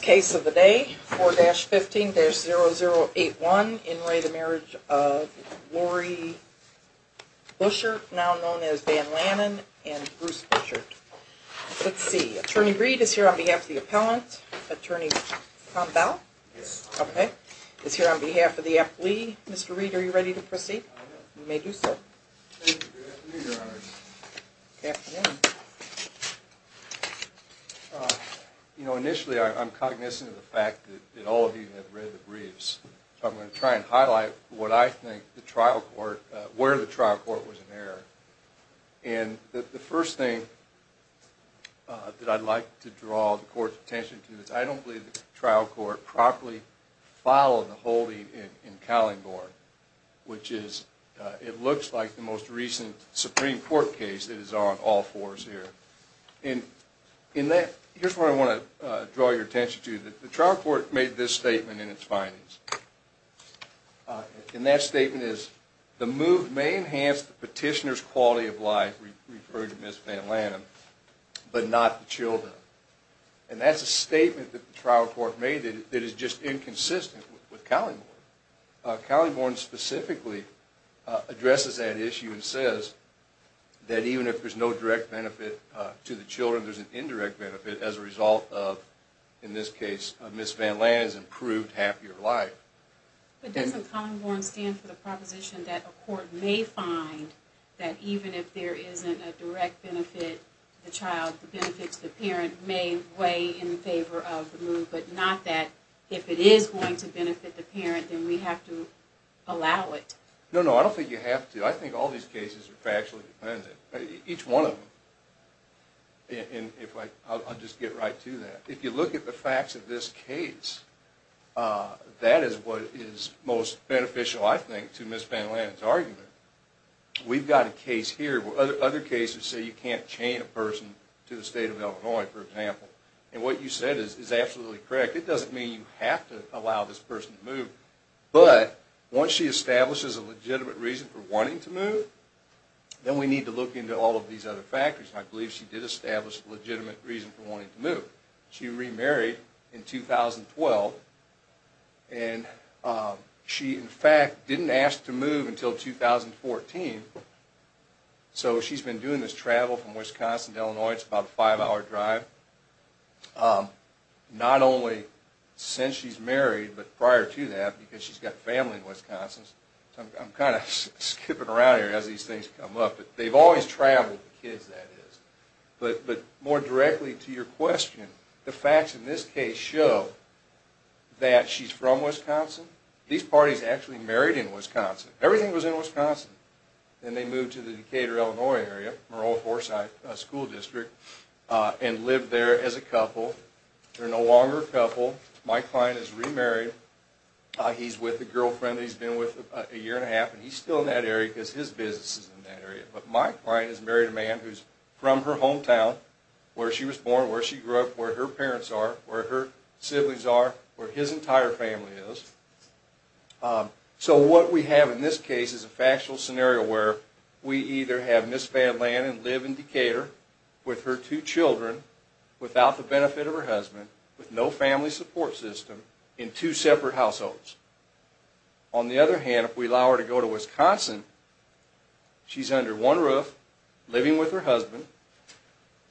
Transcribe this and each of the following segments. Case of the day, 4-15-0081, in re the marriage of Laurie Bushert, now known as Van Lannan, and Bruce Bushert. Let's see, Attorney Reed is here on behalf of the appellant. Attorney Cromwell? Yes. Okay, is here on behalf of the affilee. Mr. Reed, are you ready to proceed? I am. You may do so. Thank you. Good afternoon, Your Honors. Good afternoon. You know, initially I'm cognizant of the fact that all of you have read the briefs. So I'm going to try and highlight what I think the trial court, where the trial court was in error. And the first thing that I'd like to draw the court's attention to is I don't believe the trial court properly followed the holding in Callen-Gordon, which is, it looks like the most recent Supreme Court case that is on all fours here. And in that, here's where I want to draw your attention to. The trial court made this statement in its findings. And that statement is, the move may enhance the petitioner's quality of life, referring to Ms. Van Lannan, but not the children. And that's a statement that the trial court made that is just inconsistent with Callen-Gordon. Callen-Gordon specifically addresses that issue and says that even if there's no direct benefit to the children, there's an indirect benefit as a result of, in this case, Ms. Van Lannan's improved, happier life. But doesn't Callen-Gordon stand for the proposition that a court may find that even if there isn't a direct benefit to the child, the benefits to the parent may weigh in favor of the move, but not that if it is going to benefit the parent, then we have to allow it? No, no, I don't think you have to. I think all these cases are factually dependent, each one of them. And if I, I'll just get right to that. If you look at the facts of this case, that is what is most beneficial, I think, to Ms. Van Lannan's argument. We've got a case here where other cases say you can't chain a person to the state of Illinois, for example. And what you said is absolutely correct. It doesn't mean you have to allow this person to move. But once she establishes a legitimate reason for wanting to move, then we need to look into all of these other factors. And I believe she did establish a legitimate reason for wanting to move. She remarried in 2012. And she, in fact, didn't ask to move until 2014. So she's been doing this travel from Wisconsin to Illinois. It's about a five-hour drive. Not only since she's married, but prior to that, because she's got family in Wisconsin. I'm kind of skipping around here as these things come up, but they've always traveled, the kids, that is. But more directly to your question, the facts in this case show that she's from Wisconsin. These parties actually married in Wisconsin. Everything was in Wisconsin. Then they moved to the Decatur, Illinois area, Monroe-Forsyth School District, and lived there as a couple. They're no longer a couple. Mike Klein is remarried. He's with a girlfriend he's been with a year and a half. And he's still in that area because his business is in that area. But Mike Klein has married a man who's from her hometown, where she was born, where she grew up, where her parents are, where her siblings are, where his entire family is. So what we have in this case is a factual scenario where we either have mis-found land and live in Decatur with her two children, without the benefit of her husband, with no family support system, in two separate households. On the other hand, if we allow her to go to Wisconsin, she's under one roof, living with her husband,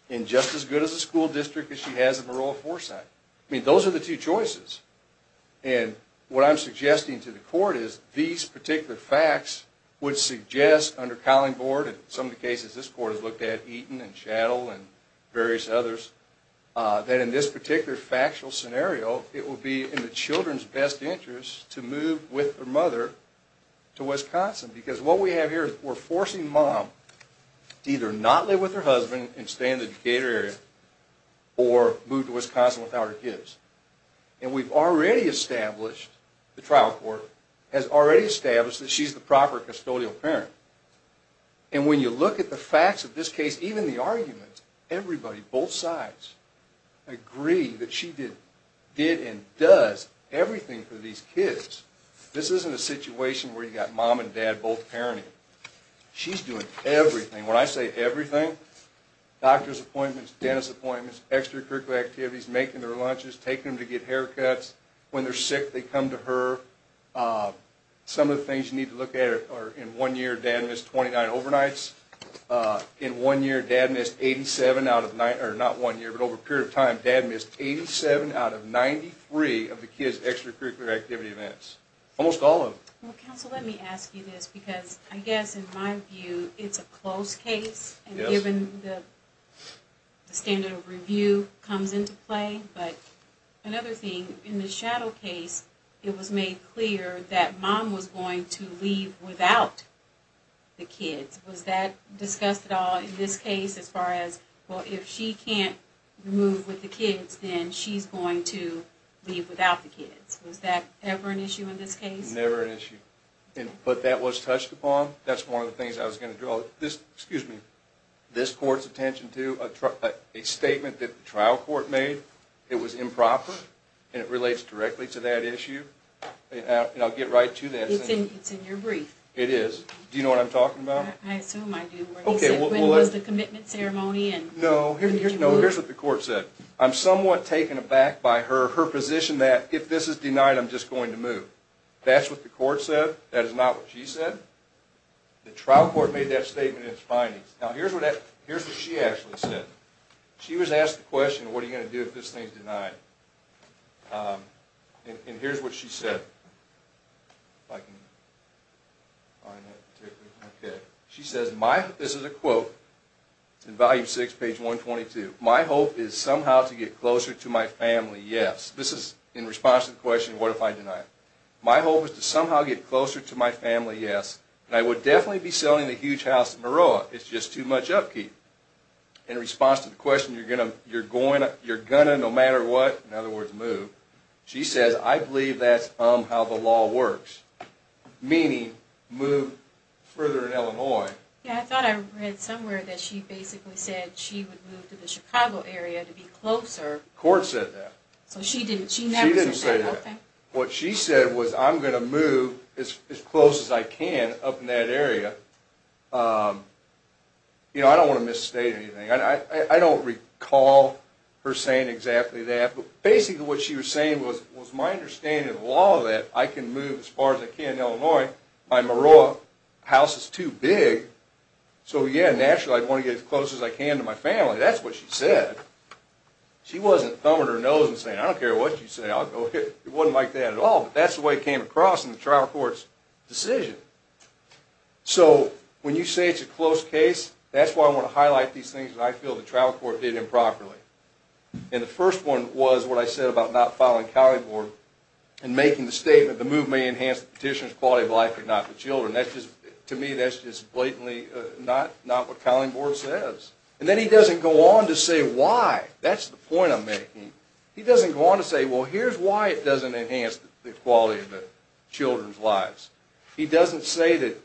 in just as good of a school district as she has in Monroe-Forsyth. I mean, those are the two choices. And what I'm suggesting to the court is these particular facts would suggest, under Collingboard, and some of the cases this court has looked at, Eaton and Shaddle and various others, that in this particular factual scenario, it would be in the children's best interest to move with their mother to Wisconsin. Because what we have here is we're forcing mom to either not live with her husband and stay in the Decatur area, or move to Wisconsin without her kids. And we've already established, the trial court has already established, that she's the proper custodial parent. And when you look at the facts of this case, even the arguments, everybody, both sides, agree that she did and does everything for these kids. This isn't a situation where you've got mom and dad both parenting. She's doing everything. When I say everything, doctor's appointments, dentist appointments, extracurricular activities, making their lunches, taking them to get haircuts, when they're sick, they come to her. Some of the things you need to look at are, in one year, dad missed 29 overnights. In one year, dad missed 87 out of, not one year, but over a period of time, dad missed 87 out of 93 of the kids' extracurricular activity events. Almost all of them. Well, counsel, let me ask you this, because I guess, in my view, it's a close case, and given the standard of review comes into play. But another thing, in the Shadow case, it was made clear that mom was going to leave without the kids. Was that discussed at all in this case as far as, well, if she can't move with the kids, then she's going to leave without the kids? Was that ever an issue in this case? Never an issue. But that was touched upon. That's one of the things I was going to draw this court's attention to, a statement that the trial court made. It was improper, and it relates directly to that issue. And I'll get right to that. It's in your brief. It is. Do you know what I'm talking about? I assume I do. Okay. When was the commitment ceremony? No, here's what the court said. I'm somewhat taken aback by her position that if this is denied, I'm just going to move. That is not what she said. The trial court made that statement in its findings. Now, here's what she actually said. She was asked the question, what are you going to do if this thing is denied? And here's what she said. She says, this is a quote in Volume 6, page 122. My hope is somehow to get closer to my family, yes. This is in response to the question, what if I deny it? My hope is to somehow get closer to my family, yes. And I would definitely be selling the huge house in Maroa. It's just too much upkeep. In response to the question, you're going to no matter what, in other words, move, she says, I believe that's how the law works. Meaning, move further in Illinois. Yeah, I thought I read somewhere that she basically said she would move to the Chicago area to be closer. The court said that. So she didn't say that? She didn't say that. Okay. What she said was, I'm going to move as close as I can up in that area. You know, I don't want to misstate anything. I don't recall her saying exactly that. But basically what she was saying was, it was my understanding of the law that I can move as far as I can in Illinois. My Maroa house is too big. So yeah, naturally I'd want to get as close as I can to my family. That's what she said. She wasn't thumbing her nose and saying, I don't care what you say. It wasn't like that at all. But that's the way it came across in the trial court's decision. So when you say it's a close case, that's why I want to highlight these things that I feel the trial court did improperly. And the first one was what I said about not following Collingborg and making the statement, the move may enhance the petitioner's quality of life but not the children. To me, that's just blatantly not what Collingborg says. And then he doesn't go on to say why. That's the point I'm making. He doesn't go on to say, well, here's why it doesn't enhance the quality of the children's lives. He doesn't say that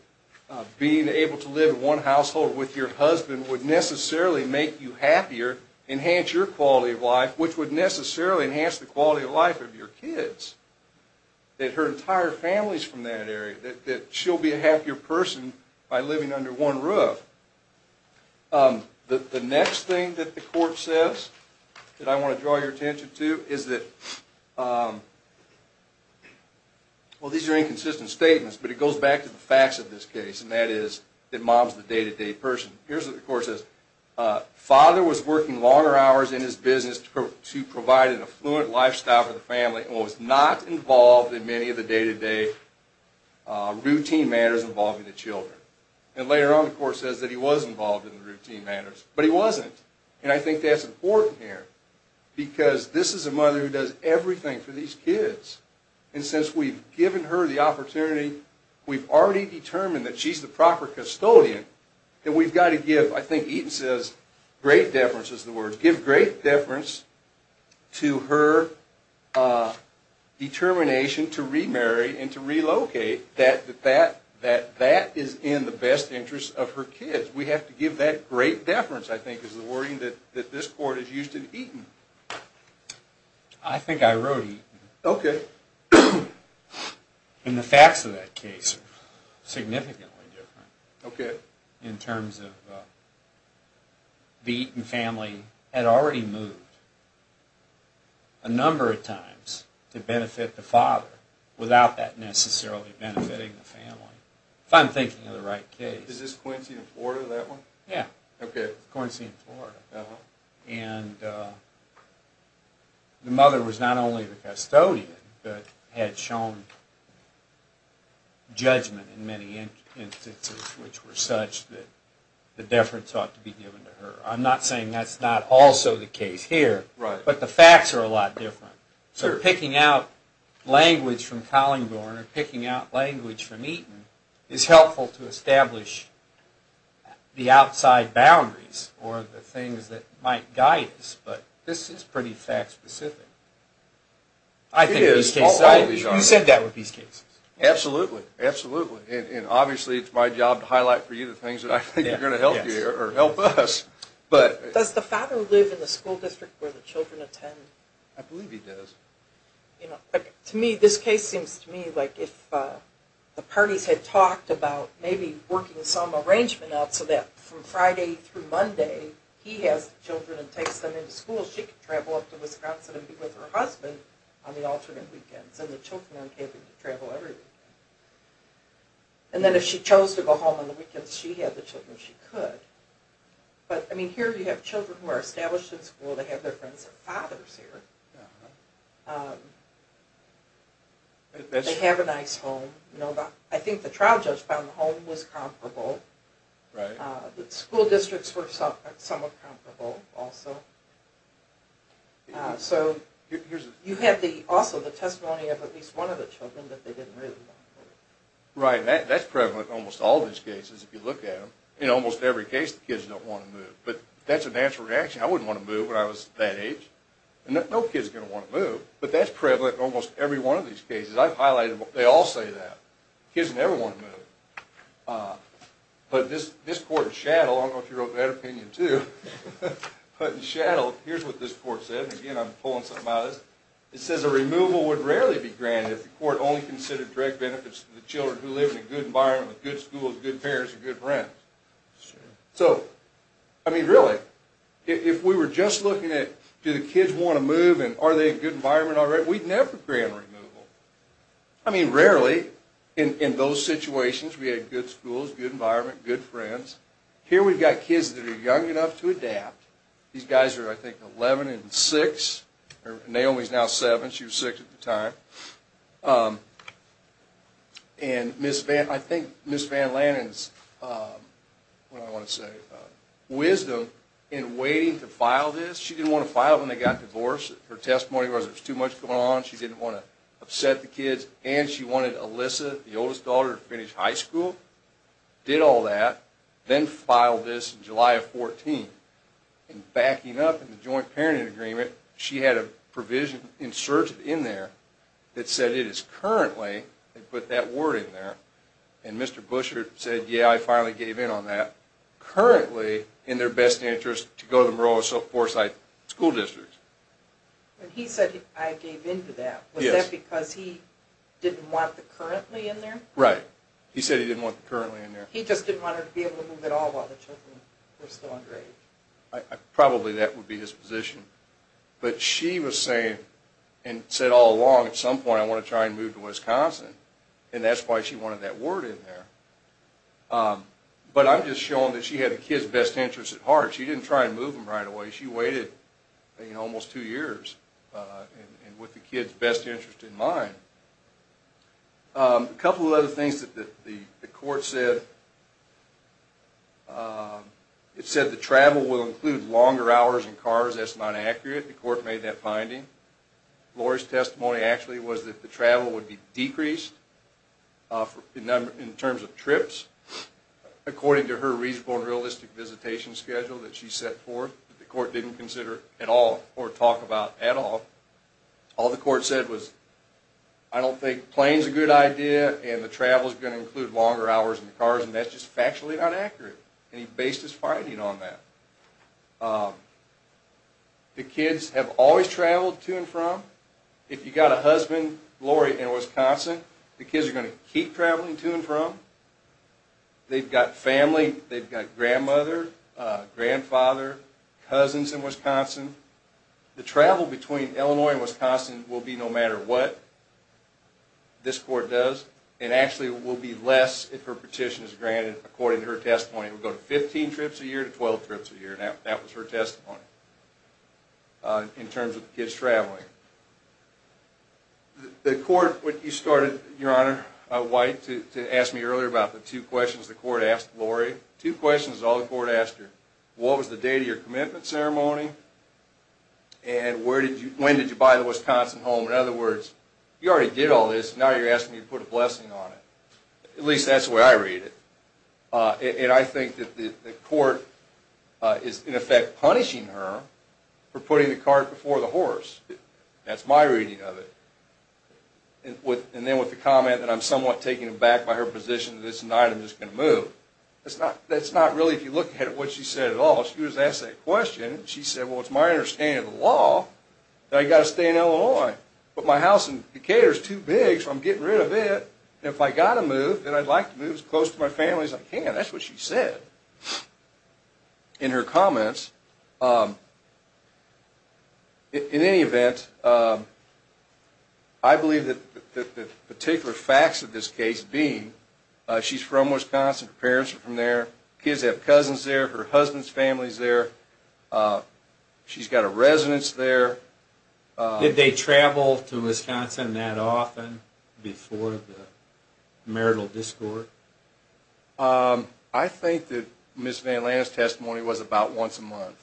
being able to live in one household with your husband would necessarily make you happier, enhance your quality of life, which would necessarily enhance the quality of life of your kids, that her entire family is from that area, that she'll be a happier person by living under one roof. The next thing that the court says that I want to draw your attention to is that, well, these are inconsistent statements, but it goes back to the facts of this case, and that is that mom's the day-to-day person. Here's what the court says. Father was working longer hours in his business to provide an affluent lifestyle for the family and was not involved in many of the day-to-day routine matters involving the children. And later on, the court says that he was involved in the routine matters, but he wasn't. And I think that's important here, because this is a mother who does everything for these kids. And since we've given her the opportunity, we've already determined that she's the proper custodian, then we've got to give, I think Eaton says, great deference is the word, give great deference to her determination to remarry and to relocate, that that is in the best interest of her kids. We have to give that great deference, I think, is the wording that this court has used in Eaton. I think I wrote Eaton. Okay. And the facts of that case are significantly different. Okay. In terms of the Eaton family had already moved a number of times to benefit the father without that necessarily benefiting the family. If I'm thinking of the right case. Is this Quincy and Florida, that one? Yeah. Okay. Quincy and Florida. Uh-huh. And the mother was not only the custodian, but had shown judgment in many instances which were such that the deference ought to be given to her. I'm not saying that's not also the case here. Right. But the facts are a lot different. So picking out language from Collingborn or picking out language from Eaton is helpful to establish the outside boundaries or the things that might guide us. But this is pretty fact specific. I think in these cases... It is. You said that with these cases. Absolutely. Absolutely. And obviously it's my job to highlight for you the things that I think are going to help you or help us. Does the father live in the school district where the children attend? I believe he does. To me, this case seems to me like if the parties had talked about maybe working some arrangement out so that from Friday through Monday he has the children and takes them into school, she could travel up to Wisconsin and be with her husband on the alternate weekends and the children would be able to travel every weekend. And then if she chose to go home on the weekends, she had the children, she could. But, I mean, here you have children who are established in school. They have their friends and fathers here. They have a nice home. I think the trial judge found the home was comparable. The school districts were somewhat comparable also. So you have also the testimony of at least one of the children that they didn't really want to go. Right. I mean, that's prevalent in almost all of these cases if you look at them. In almost every case, the kids don't want to move. But that's a natural reaction. I wouldn't want to move when I was that age. No kid is going to want to move. But that's prevalent in almost every one of these cases. I've highlighted it. They all say that. Kids never want to move. But this court in Shaddle, I don't know if you wrote that opinion too, but in Shaddle, here's what this court said. Again, I'm pulling something out of this. It says a removal would rarely be granted if the court only considered direct benefits to the children who live in a good environment with good schools, good parents, and good friends. So, I mean, really, if we were just looking at do the kids want to move and are they in a good environment already, we'd never grant removal. I mean, rarely in those situations we had good schools, good environment, good friends. These guys are, I think, 11 and 6. Naomi is now 7. She was 6 at the time. And I think Ms. Van Lannan's wisdom in waiting to file this, she didn't want to file it when they got divorced. Her testimony was there was too much going on. She didn't want to upset the kids. And she wanted Alyssa, the oldest daughter, to finish high school, did all that, then filed this in July of 2014. And backing up in the joint parenting agreement, she had a provision inserted in there that said it is currently, they put that word in there, and Mr. Buschert said, yeah, I finally gave in on that, currently in their best interest to go to the Moroso-Forsyth School District. And he said, I gave in to that. Was that because he didn't want the currently in there? Right. He said he didn't want the currently in there. He just didn't want her to be able to move at all while the children were still underage. Probably that would be his position. But she was saying and said all along, at some point I want to try and move to Wisconsin, and that's why she wanted that word in there. But I'm just showing that she had the kids' best interest at heart. She didn't try and move them right away. She waited almost two years with the kids' best interest in mind. A couple of other things that the court said. It said the travel will include longer hours in cars. That's not accurate. The court made that finding. Lori's testimony actually was that the travel would be decreased in terms of trips, according to her reasonable and realistic visitation schedule that she set forth, that the court didn't consider at all or talk about at all. All the court said was, I don't think planes are a good idea, and the travel is going to include longer hours in the cars, and that's just factually not accurate. And he based his finding on that. The kids have always traveled to and from. If you've got a husband, Lori, in Wisconsin, the kids are going to keep traveling to and from. They've got family. They've got grandmother, grandfather, cousins in Wisconsin. The travel between Illinois and Wisconsin will be no matter what. This court does. It actually will be less if her petition is granted, according to her testimony. It will go to 15 trips a year to 12 trips a year. That was her testimony in terms of the kids traveling. The court, when you started, Your Honor, White, to ask me earlier about the two questions the court asked Lori, two questions all the court asked her. What was the date of your commitment ceremony? And when did you buy the Wisconsin home? In other words, you already did all this. Now you're asking me to put a blessing on it. At least that's the way I read it. And I think that the court is, in effect, punishing her for putting the cart before the horse. That's my reading of it. And then with the comment that I'm somewhat taken aback by her position, that it's not, I'm just going to move. That's not really if you look at what she said at all. She was asked that question. She said, well, it's my understanding of the law that I've got to stay in Illinois. But my house in Decatur is too big, so I'm getting rid of it. And if I've got to move, then I'd like to move as close to my family as I can. That's what she said in her comments. In any event, I believe that the particular facts of this case being that she's from Wisconsin, her parents are from there, kids have cousins there, her husband's family is there, she's got a residence there. Did they travel to Wisconsin that often before the marital discord? I think that Ms. Van Lanta's testimony was about once a month.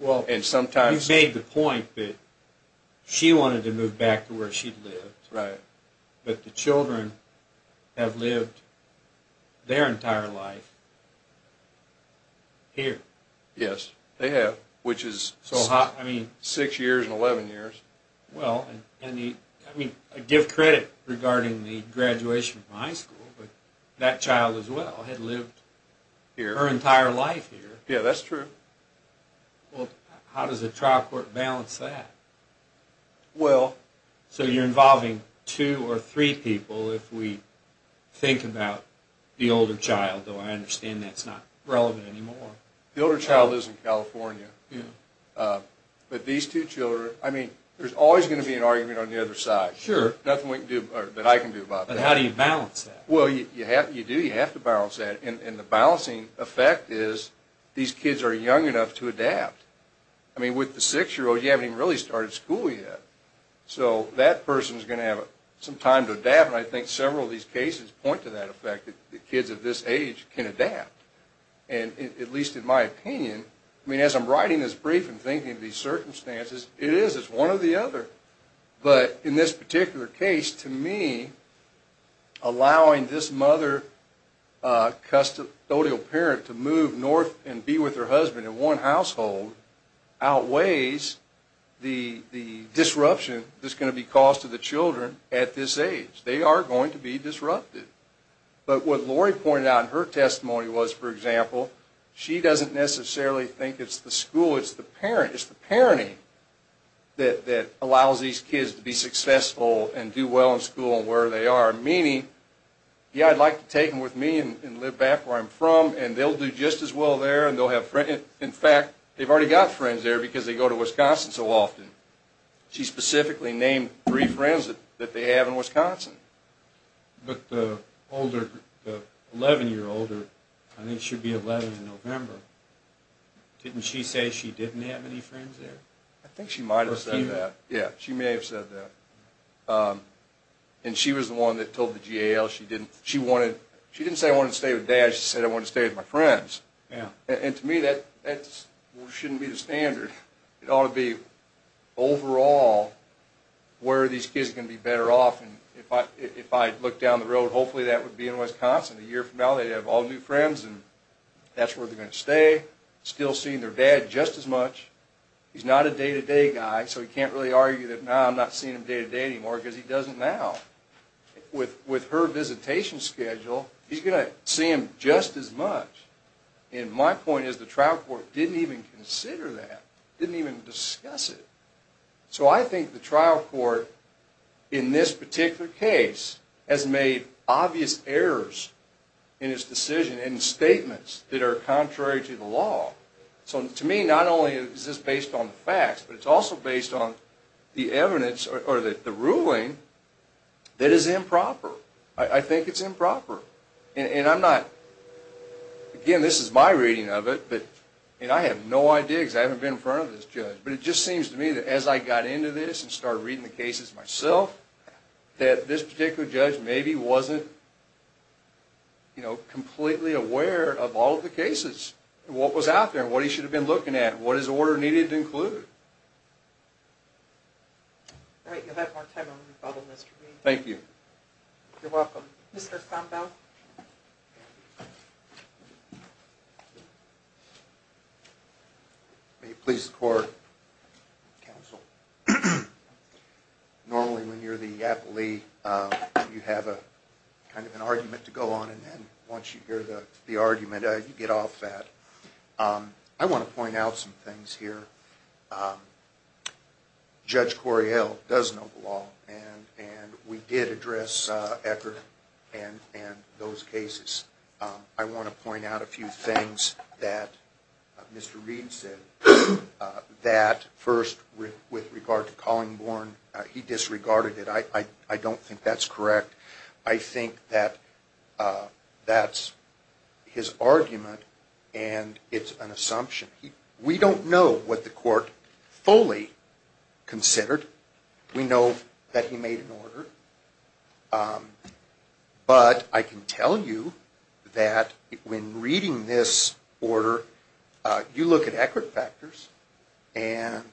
You made the point that she wanted to move back to where she lived. Right. But the children have lived their entire life here. Yes, they have, which is six years and 11 years. Well, I give credit regarding the graduation from high school, but that child as well had lived her entire life here. Yeah, that's true. Well, how does a trial court balance that? Well... So you're involving two or three people if we think about the older child, though I understand that's not relevant anymore. The older child lives in California. But these two children, I mean, there's always going to be an argument on the other side. Sure. Nothing that I can do about that. But how do you balance that? Well, you do, you have to balance that. And the balancing effect is these kids are young enough to adapt. I mean, with the six-year-old, you haven't even really started school yet. So that person's going to have some time to adapt, and I think several of these cases point to that effect, that kids of this age can adapt, at least in my opinion. I mean, as I'm writing this brief and thinking of these circumstances, it is. It's one or the other. But in this particular case, to me, allowing this mother custodial parent to move north and be with her husband in one household outweighs the disruption that's going to be caused to the children at this age. They are going to be disrupted. But what Lori pointed out in her testimony was, for example, she doesn't necessarily think it's the school, it's the parent, it's the parenting that allows these kids to be successful and do well in school and where they are. Meaning, yeah, I'd like to take them with me and live back where I'm from, and they'll do just as well there. In fact, they've already got friends there because they go to Wisconsin so often. She specifically named three friends that they have in Wisconsin. But the 11-year-old, I think she'll be 11 in November, didn't she say she didn't have any friends there? I think she might have said that. Yeah, she may have said that. And she was the one that told the GAL she didn't. She didn't say, I want to stay with Dad. She said, I want to stay with my friends. And to me, that shouldn't be the standard. It ought to be, overall, where are these kids going to be better off? And if I look down the road, hopefully that would be in Wisconsin. A year from now they'd have all new friends, and that's where they're going to stay. Still seeing their dad just as much. He's not a day-to-day guy, so he can't really argue that, nah, I'm not seeing him day-to-day anymore because he doesn't now. With her visitation schedule, he's going to see him just as much. And my point is the trial court didn't even consider that, didn't even discuss it. So I think the trial court, in this particular case, has made obvious errors in its decision and statements that are contrary to the law. So to me, not only is this based on facts, but it's also based on the evidence or the ruling that is improper. I think it's improper. And I'm not, again, this is my reading of it, and I have no idea because I haven't been in front of this judge, but it just seems to me that as I got into this and started reading the cases myself, that this particular judge maybe wasn't completely aware of all of the cases, what was out there and what he should have been looking at, what his order needed to include. All right, you'll have more time on the rebuttal list for me. Thank you. You're welcome. Mr. Thompel. May it please the court, counsel. Normally when you're the appellee, you have kind of an argument to go on, and then once you hear the argument, you get off that. I want to point out some things here. Judge Cory Hale does know the law, and we did address Ecker and those cases. I want to point out a few things that Mr. Reed said, that first with regard to Collingborn, he disregarded it. I don't think that's correct. I think that that's his argument, and it's an assumption. We don't know what the court fully considered. We know that he made an order. But I can tell you that when reading this order, you look at Eckert factors, and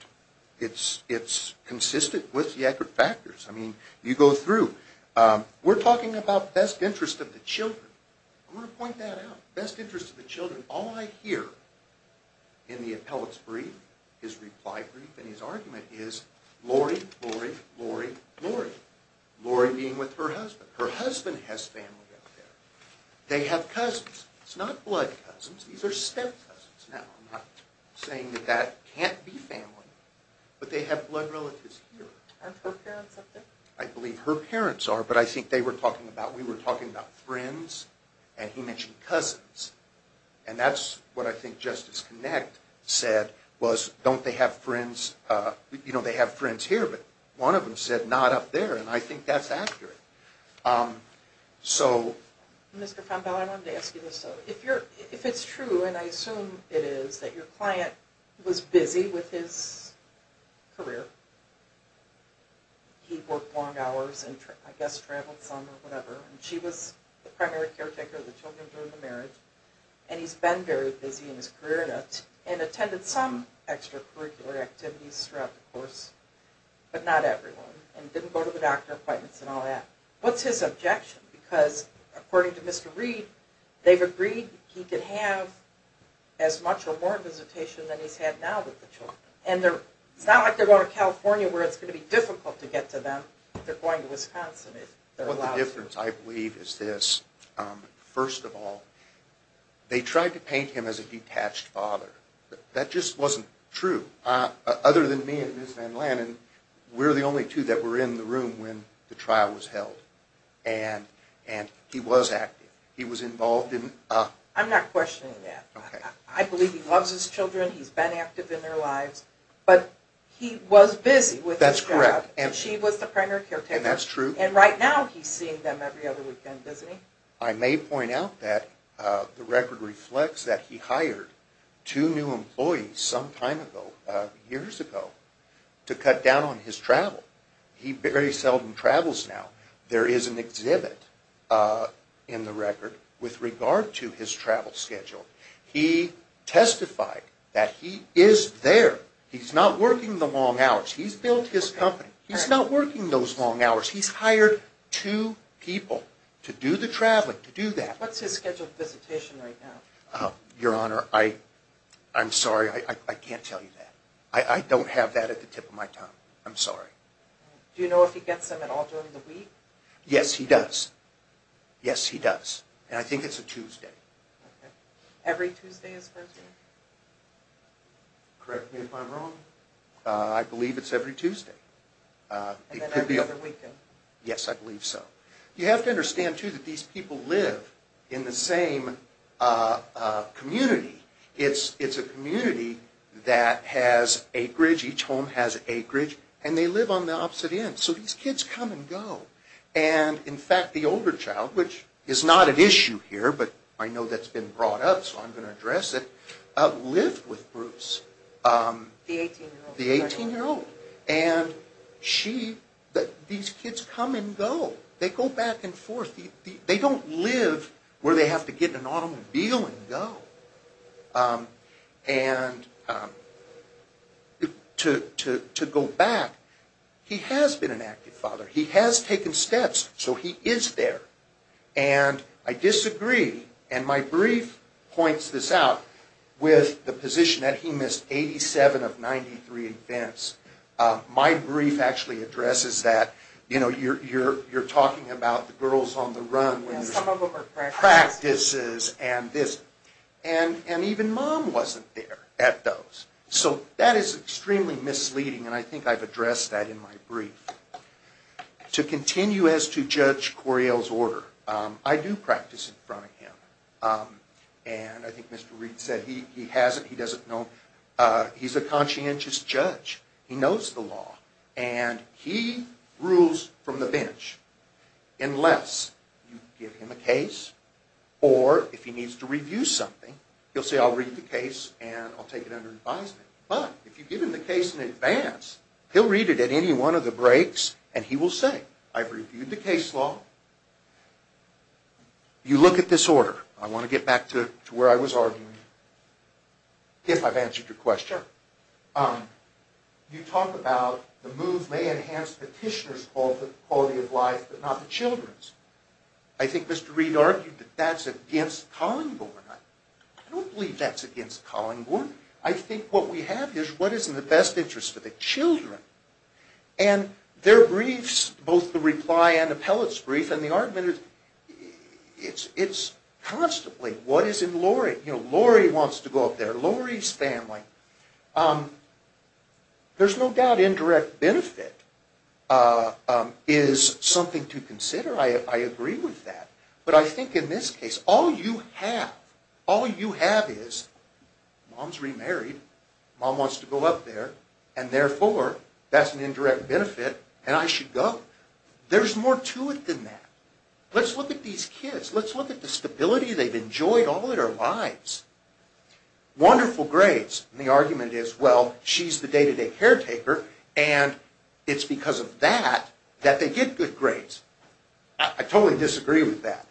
it's consistent with the Eckert factors. I mean, you go through. We're talking about best interest of the children. I want to point that out, best interest of the children. All I hear in the appellate's brief, his reply brief, and his argument, is Lori, Lori, Lori, Lori, Lori being with her husband. Her husband has family out there. They have cousins. It's not blood cousins. These are step cousins. Now, I'm not saying that that can't be family, but they have blood relatives here. Aren't her parents up there? I believe her parents are, but I think they were talking about, we were talking about friends, and he mentioned cousins. And that's what I think Justice Connect said, was don't they have friends, you know, they have friends here, but one of them said not up there, and I think that's accurate. So. Mr. Fanbell, I wanted to ask you this though. If it's true, and I assume it is, that your client was busy with his career, he worked long hours and I guess traveled some or whatever, and she was the primary caretaker of the children during the marriage, and he's been very busy in his career, and attended some extracurricular activities throughout the course, but not everyone, and didn't go to the doctor appointments and all that. What's his objection? Because according to Mr. Reed, they've agreed he could have as much or more visitation than he's had now with the children. And it's not like they're going to California, where it's going to be difficult to get to them. They're going to Wisconsin if they're allowed to. Well, the difference, I believe, is this. First of all, they tried to paint him as a detached father. That just wasn't true. Other than me and Ms. Van Lannen, we're the only two that were in the room when the trial was held. And he was active. He was involved in... I'm not questioning that. I believe he loves his children, he's been active in their lives, but he was busy with his job. That's correct. And she was the primary caretaker. And that's true. And right now he's seeing them every other weekend, isn't he? I may point out that the record reflects that he hired two new employees some time ago, years ago, to cut down on his travel. He very seldom travels now. There is an exhibit in the record with regard to his travel schedule. He testified that he is there. He's not working the long hours. He's built his company. He's not working those long hours. He's hired two people to do the traveling, to do that. What's his scheduled visitation right now? Your Honor, I'm sorry, I can't tell you that. I don't have that at the tip of my tongue. I'm sorry. Do you know if he gets them at all during the week? Yes, he does. Yes, he does. And I think it's a Tuesday. Okay. Every Tuesday is Thursday? Correct me if I'm wrong. I believe it's every Tuesday. And then every other weekend? Yes, I believe so. You have to understand, too, that these people live in the same community. It's a community that has acreage. Each home has acreage. And they live on the opposite end. So these kids come and go. And, in fact, the older child, which is not an issue here, but I know that's been brought up, so I'm going to address it, lived with Bruce. The 18-year-old. The 18-year-old. And these kids come and go. They go back and forth. They don't live where they have to get in an automobile and go. And to go back, he has been an active father. He has taken steps, so he is there. And I disagree, and my brief points this out, with the position that he missed 87 of 93 events. My brief actually addresses that. You know, you're talking about the girls on the run with practices and this. And even Mom wasn't there at those. So that is extremely misleading, and I think I've addressed that in my brief. To continue as to Judge Coriel's order, I do practice in front of him. And I think Mr. Reed said he hasn't. He doesn't know. He's a conscientious judge. He knows the law, and he rules from the bench. Unless you give him a case, or if he needs to review something, he'll say, I'll read the case and I'll take it under advisement. But if you give him the case in advance, he'll read it at any one of the breaks, and he will say, I've reviewed the case law. You look at this order. I want to get back to where I was arguing, if I've answered your question. You talk about the move may enhance petitioner's quality of life, but not the children's. I think Mr. Reed argued that that's against Collingborn. I don't believe that's against Collingborn. I think what we have is what is in the best interest for the children. And there are briefs, both the reply and appellate's brief, and the argument is, it's constantly, what is in Lori? You know, Lori wants to go up there. Lori's family. There's no doubt indirect benefit is something to consider. I agree with that. But I think in this case, all you have, all you have is mom's remarried, mom wants to go up there, and therefore, that's an indirect benefit, and I should go. There's more to it than that. Let's look at these kids. Let's look at the stability they've enjoyed all their lives. Wonderful grades. And the argument is, well, she's the day-to-day caretaker, and it's because of that that they get good grades. I totally disagree with that.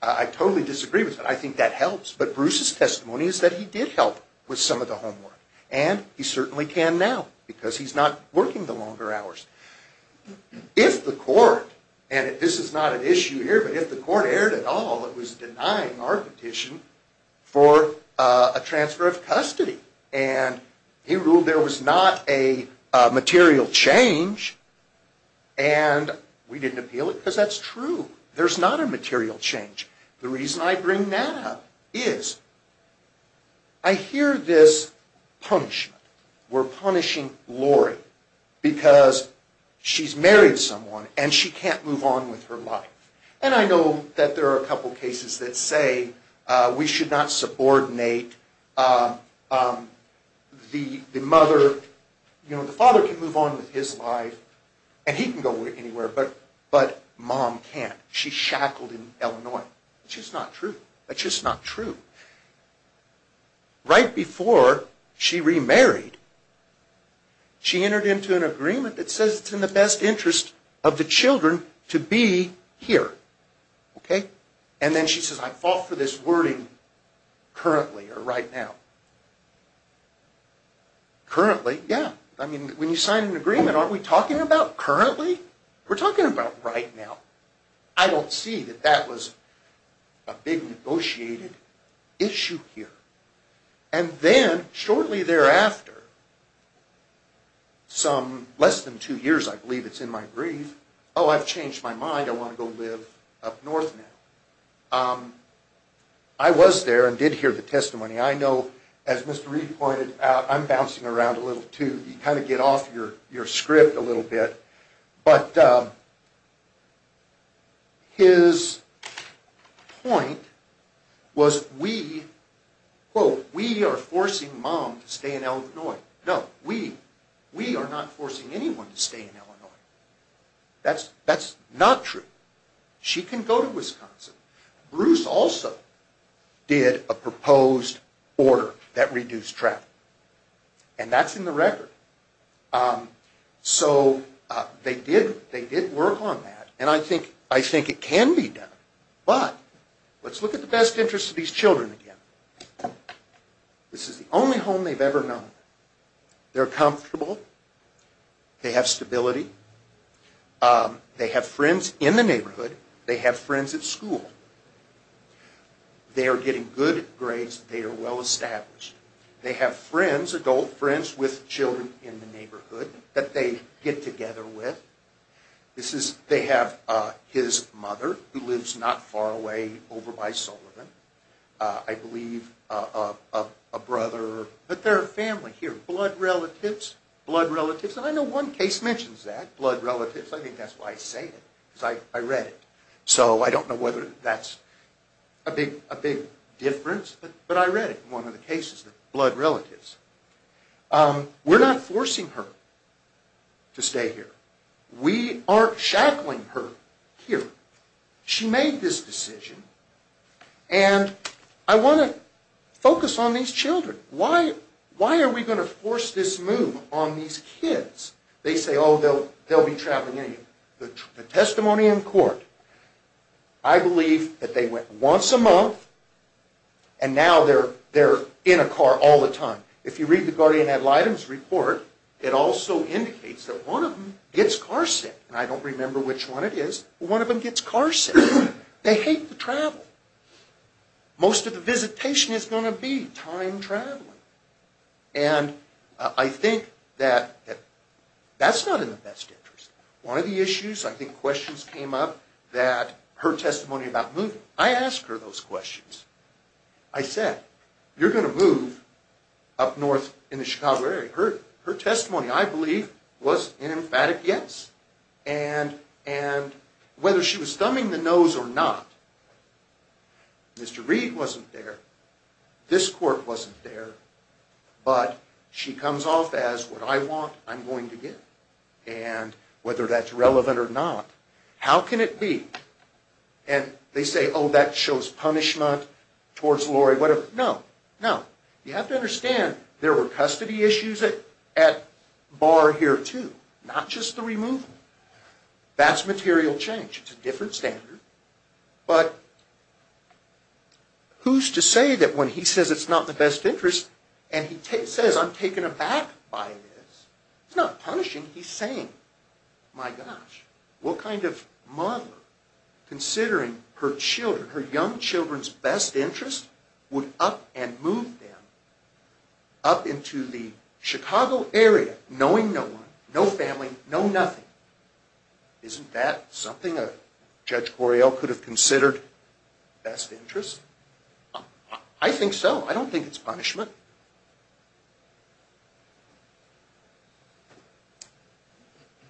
I totally disagree with that. I think that helps. But Bruce's testimony is that he did help with some of the homework, and he certainly can now because he's not working the longer hours. If the court, and this is not an issue here, but if the court erred at all, it was denying our petition for a transfer of custody, and he ruled there was not a material change, and we didn't appeal it because that's true. There's not a material change. The reason I bring that up is I hear this punishment. We're punishing Lori because she's married to someone, and she can't move on with her life. And I know that there are a couple cases that say we should not subordinate the mother. You know, the father can move on with his life, and he can go anywhere, but mom can't. She's shackled in Illinois. That's just not true. That's just not true. Right before she remarried, she entered into an agreement that says it's in the best interest of the children to be here. Okay? And then she says, I fought for this wording currently or right now. Currently, yeah. I mean, when you sign an agreement, aren't we talking about currently? We're talking about right now. I don't see that that was a big negotiated issue here. And then shortly thereafter, some less than two years, I believe it's in my brief, oh, I've changed my mind. I want to go live up north now. I was there and did hear the testimony. I know, as Mr. Reed pointed out, I'm bouncing around a little too. You kind of get off your script a little bit. But his point was we, quote, we are forcing mom to stay in Illinois. No, we. We are not forcing anyone to stay in Illinois. That's not true. She can go to Wisconsin. Bruce also did a proposed order that reduced travel. And that's in the record. So they did work on that. And I think it can be done. But let's look at the best interest of these children again. This is the only home they've ever known. They're comfortable. They have stability. They have friends in the neighborhood. They have friends at school. They are getting good grades. They are well established. They have friends, adult friends with children in the neighborhood that they get together with. They have his mother who lives not far away over by Sullivan. I believe a brother. But they're a family here. Blood relatives, blood relatives. And I know one case mentions that, blood relatives. I think that's why I say it. Because I read it. So I don't know whether that's a big difference. But I read it in one of the cases, the blood relatives. We're not forcing her to stay here. We aren't shackling her here. She made this decision. And I want to focus on these children. Why are we going to force this move on these kids? They say, oh, they'll be traveling anyway. The testimony in court, I believe that they went once a month. And now they're in a car all the time. If you read the guardian ad litem's report, it also indicates that one of them gets car sick. And I don't remember which one it is, but one of them gets car sick. They hate to travel. Most of the visitation is going to be time traveling. And I think that that's not in the best interest. One of the issues, I think questions came up that her testimony about moving. I asked her those questions. I said, you're going to move up north in the Chicago area. Her testimony, I believe, was an emphatic yes. And whether she was thumbing the nose or not, Mr. Reed wasn't there. This court wasn't there. But she comes off as, what I want, I'm going to get. And whether that's relevant or not, how can it be? And they say, oh, that shows punishment towards Lori, whatever. No, no. You have to understand there were custody issues at bar here, too. Not just the removal. That's material change. It's a different standard. But who's to say that when he says it's not in the best interest and he says, I'm taken aback by this, it's not punishing. He's saying, my gosh, what kind of mother, considering her children, her young children's best interest, would up and move them up into the Chicago area, knowing no one, no family, no nothing? Isn't that something a Judge Correale could have considered best interest? I think so. I don't think it's punishment.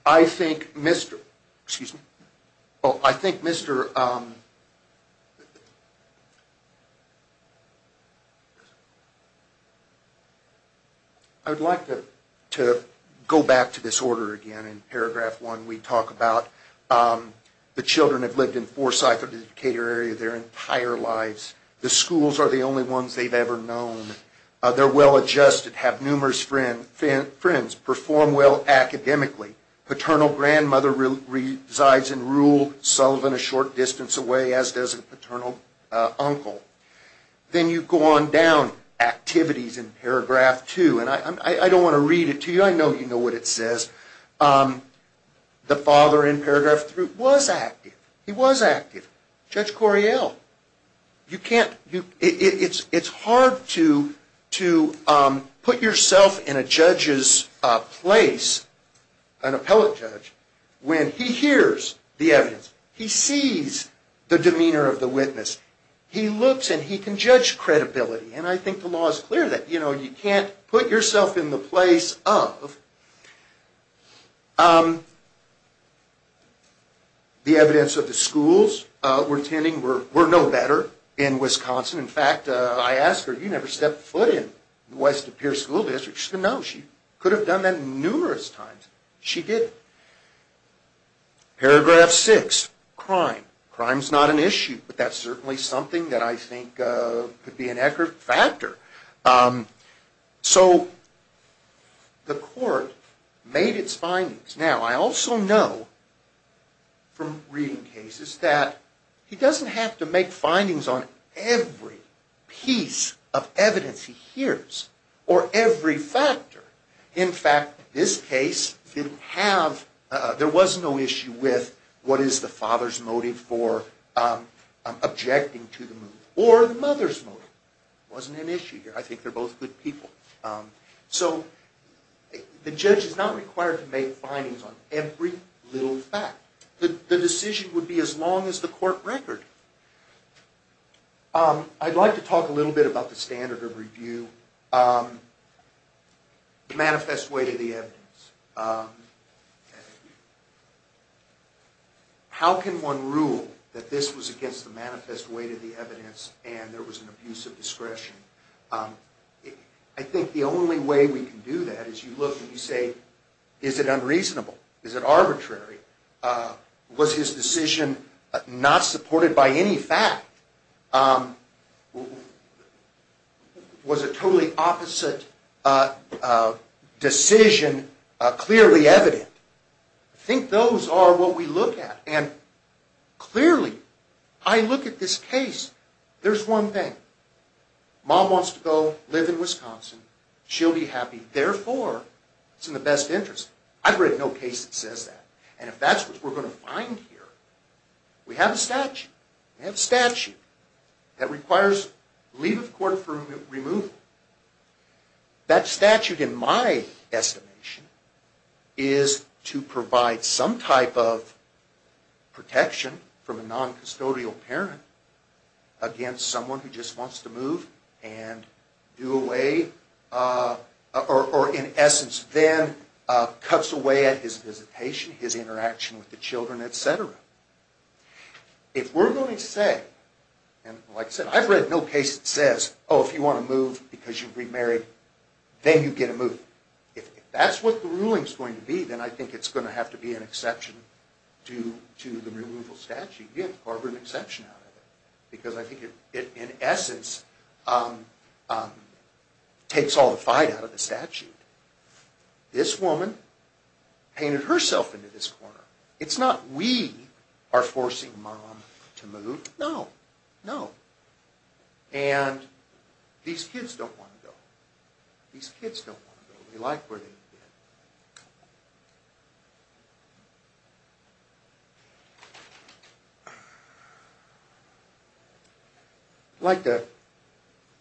I think Mr. Excuse me. I think Mr. I would like to go back to this order again. In paragraph one we talk about the children have lived in Forsyth or the Decatur area their entire lives. The schools are the only ones they've ever known. They're well adjusted. Have numerous friends. Perform well academically. Paternal grandmother resides in Rule, Sullivan a short distance away, as does a paternal uncle. Then you go on down. Activities in paragraph two. And I don't want to read it to you. I know you know what it says. The father in paragraph three was active. He was active. Judge Correale. You can't. It's hard to put yourself in a judge's place, an appellate judge, when he hears the evidence. He sees the demeanor of the witness. He looks and he can judge credibility. And I think the law is clear that you can't put yourself in the place of the evidence of the schools. We're no better in Wisconsin. In fact, I asked her, you never stepped foot in west of Pierce School District. She said no. She could have done that numerous times. She didn't. Paragraph six. Crime. Crime's not an issue. But that's certainly something that I think could be an accurate factor. So the court made its findings. Now, I also know from reading cases that he doesn't have to make findings on every piece of evidence he hears or every factor. In fact, this case didn't have, there was no issue with what is the father's motive for objecting to the move or the mother's motive. It wasn't an issue here. I think they're both good people. So the judge is not required to make findings on every little fact. The decision would be as long as the court record. I'd like to talk a little bit about the standard of review. The manifest way to the evidence. How can one rule that this was against the manifest way to the evidence and there was an abuse of discretion? I think the only way we can do that is you look and you say, is it unreasonable? Is it arbitrary? Was his decision not supported by any fact? Was a totally opposite decision clearly evident? I think those are what we look at. And clearly, I look at this case. There's one thing. Mom wants to go live in Wisconsin. She'll be happy. Therefore, it's in the best interest. I've read no case that says that. And if that's what we're going to find here, we have a statute. We have a statute that requires leave of court for removal. That statute, in my estimation, is to provide some type of protection from a non-custodial parent against someone who just wants to move and do away. Or, in essence, then cuts away at his visitation, his interaction with the children, etc. If we're going to say, and like I said, I've read no case that says, oh, if you want to move because you're remarried, then you get to move. If that's what the ruling is going to be, then I think it's going to have to be an exception to the removal statute. You have to carve an exception out of it. Because I think it, in essence, takes all the fight out of the statute. This woman painted herself into this corner. It's not we are forcing mom to move. No. No. And these kids don't want to go. These kids don't want to go. They like where they've been. I'd like to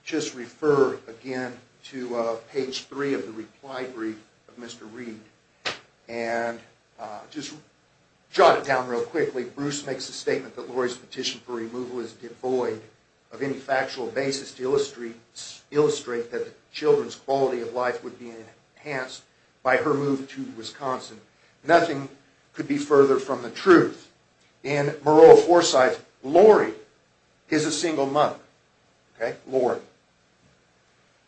just refer again to page 3 of the reply brief of Mr. Reed. And just jot it down real quickly. Bruce makes a statement that Laurie's petition for removal is devoid of any factual basis to illustrate that the children's quality of life would be enhanced by her move to Wisconsin. Nothing could be further from the truth. In Moreau-Forsyth, Laurie is a single mother. Okay? Laurie.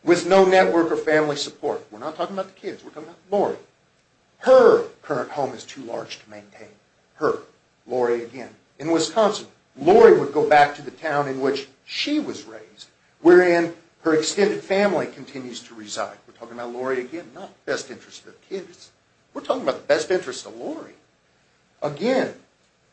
With no network or family support. We're not talking about the kids. We're talking about Laurie. Her current home is too large to maintain. Her. Laurie again. In Wisconsin, Laurie would go back to the town in which she was raised, wherein her extended family continues to reside. We're talking about Laurie again, not the best interest of the kids. We're talking about the best interest of Laurie. Again,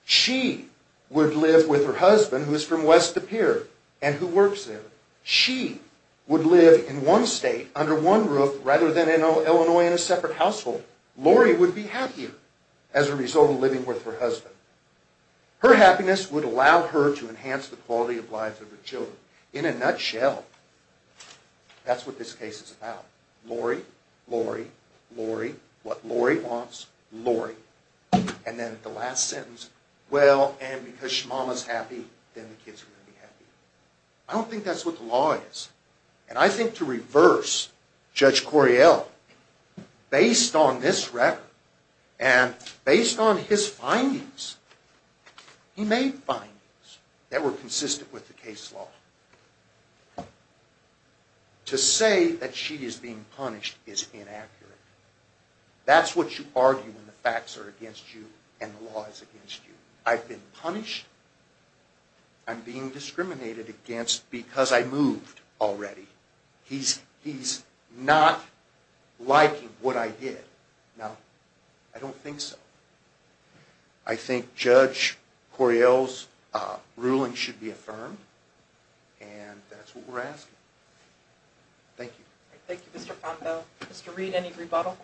she would live with her husband, who is from west of the pier, and who works there. She would live in one state, under one roof, rather than in Illinois in a separate household. Laurie would be happier as a result of living with her husband. Her happiness would allow her to enhance the quality of life of her children. In a nutshell, that's what this case is about. Laurie. Laurie. Laurie. What Laurie wants. Laurie. And then the last sentence. Well, and because Mama's happy, then the kids are going to be happy. I don't think that's what the law is. And I think to reverse Judge Correale, based on this record, and based on his findings, he made findings that were consistent with the case law. To say that she is being punished is inaccurate. That's what you argue when the facts are against you and the law is against you. I've been punished. I'm being discriminated against because I moved already. He's not liking what I did. Now, I don't think so. I think Judge Correale's ruling should be affirmed, and that's what we're asking. Thank you. Thank you, Mr. Ponto. Mr. Reed, any rebuttal?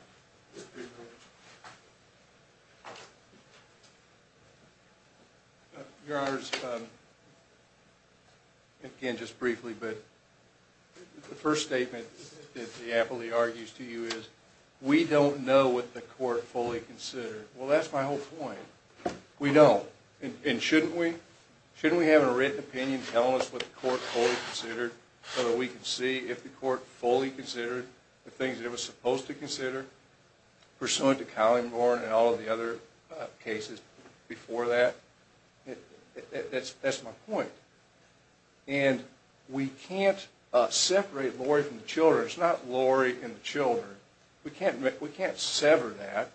Your Honors, again, just briefly, but the first statement that he aptly argues to you is, we don't know what the court fully considered. Well, that's my whole point. We don't. And shouldn't we? Shouldn't we have a written opinion telling us what the court fully considered so that we can see if the court fully considered the things it was supposed to consider pursuant to Collingborn and all of the other cases before that? That's my point. And we can't separate Lori from the children. It's not Lori and the children. We can't sever that.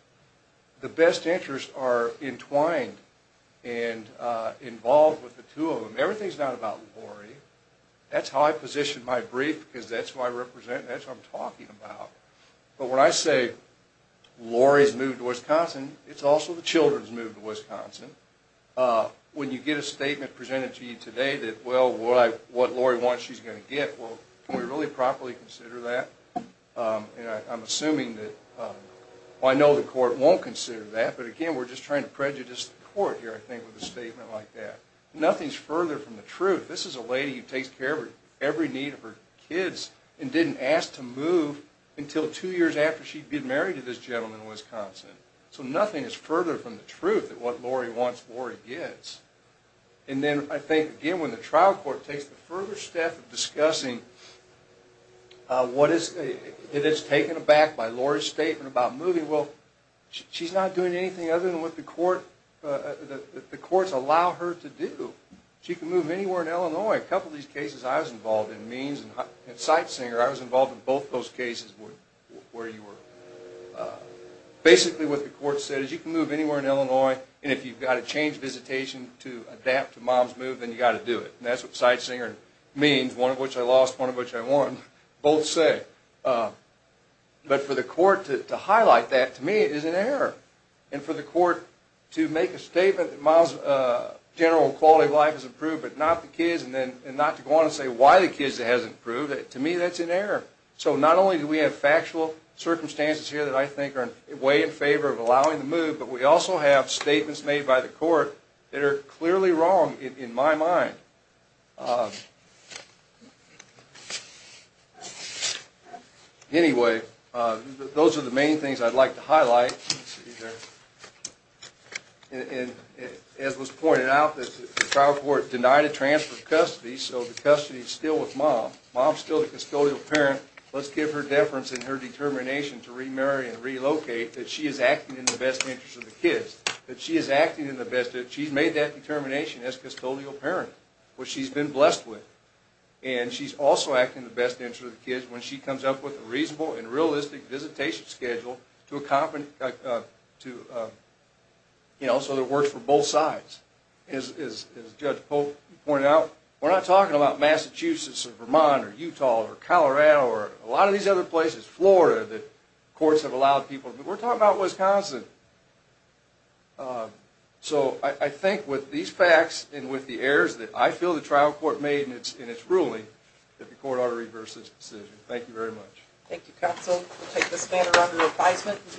The best interests are entwined and involved with the two of them. Everything's not about Lori. That's how I position my brief because that's who I represent and that's who I'm talking about. But when I say Lori's moved to Wisconsin, it's also the children's moved to Wisconsin. When you get a statement presented to you today that, well, what Lori wants she's going to get, well, can we really properly consider that? And I'm assuming that, well, I know the court won't consider that, but again, we're just trying to prejudice the court here, I think, with a statement like that. Nothing's further from the truth. This is a lady who takes care of every need of her kids and didn't ask to move until two years after she'd been married to this gentleman in Wisconsin. So nothing is further from the truth than what Lori wants Lori gets. And then I think, again, when the trial court takes the further step of discussing what is taken aback by Lori's statement about moving, well, she's not doing anything other than what the courts allow her to do. She can move anywhere in Illinois. A couple of these cases I was involved in, Means and Sightsinger, I was involved in both those cases where you were. Basically what the court said is you can move anywhere in Illinois, and if you've got to change visitation to adapt to Mom's move, then you've got to do it. And that's what Sightsinger and Means, one of which I lost, one of which I won, both say. But for the court to highlight that, to me, is an error. And for the court to make a statement that Mom's general quality of life has improved but not the kids and not to go on and say why the kids it hasn't improved, to me that's an error. So not only do we have factual circumstances here that I think are way in favor of allowing the move, but we also have statements made by the court that are clearly wrong in my mind. Anyway, those are the main things I'd like to highlight. And as was pointed out, the trial court denied a transfer of custody, so the custody is still with Mom. Mom's still the custodial parent. Let's give her deference and her determination to remarry and relocate that she is acting in the best interest of the kids, that she is acting in the best interest. She's made that determination as custodial parent, which she's been blessed with. And she's also acting in the best interest of the kids when she comes up with a reasonable and realistic visitation schedule so that it works for both sides. As Judge Pope pointed out, we're not talking about Massachusetts or Vermont or Utah or Colorado or a lot of these other places, Florida, that courts have allowed people to move. We're talking about Wisconsin. So I think with these facts and with the errors that I feel the trial court made in its ruling, that the court ought to reverse its decision. Thank you very much. Thank you, counsel. We'll take this matter under advisement and see you in recess.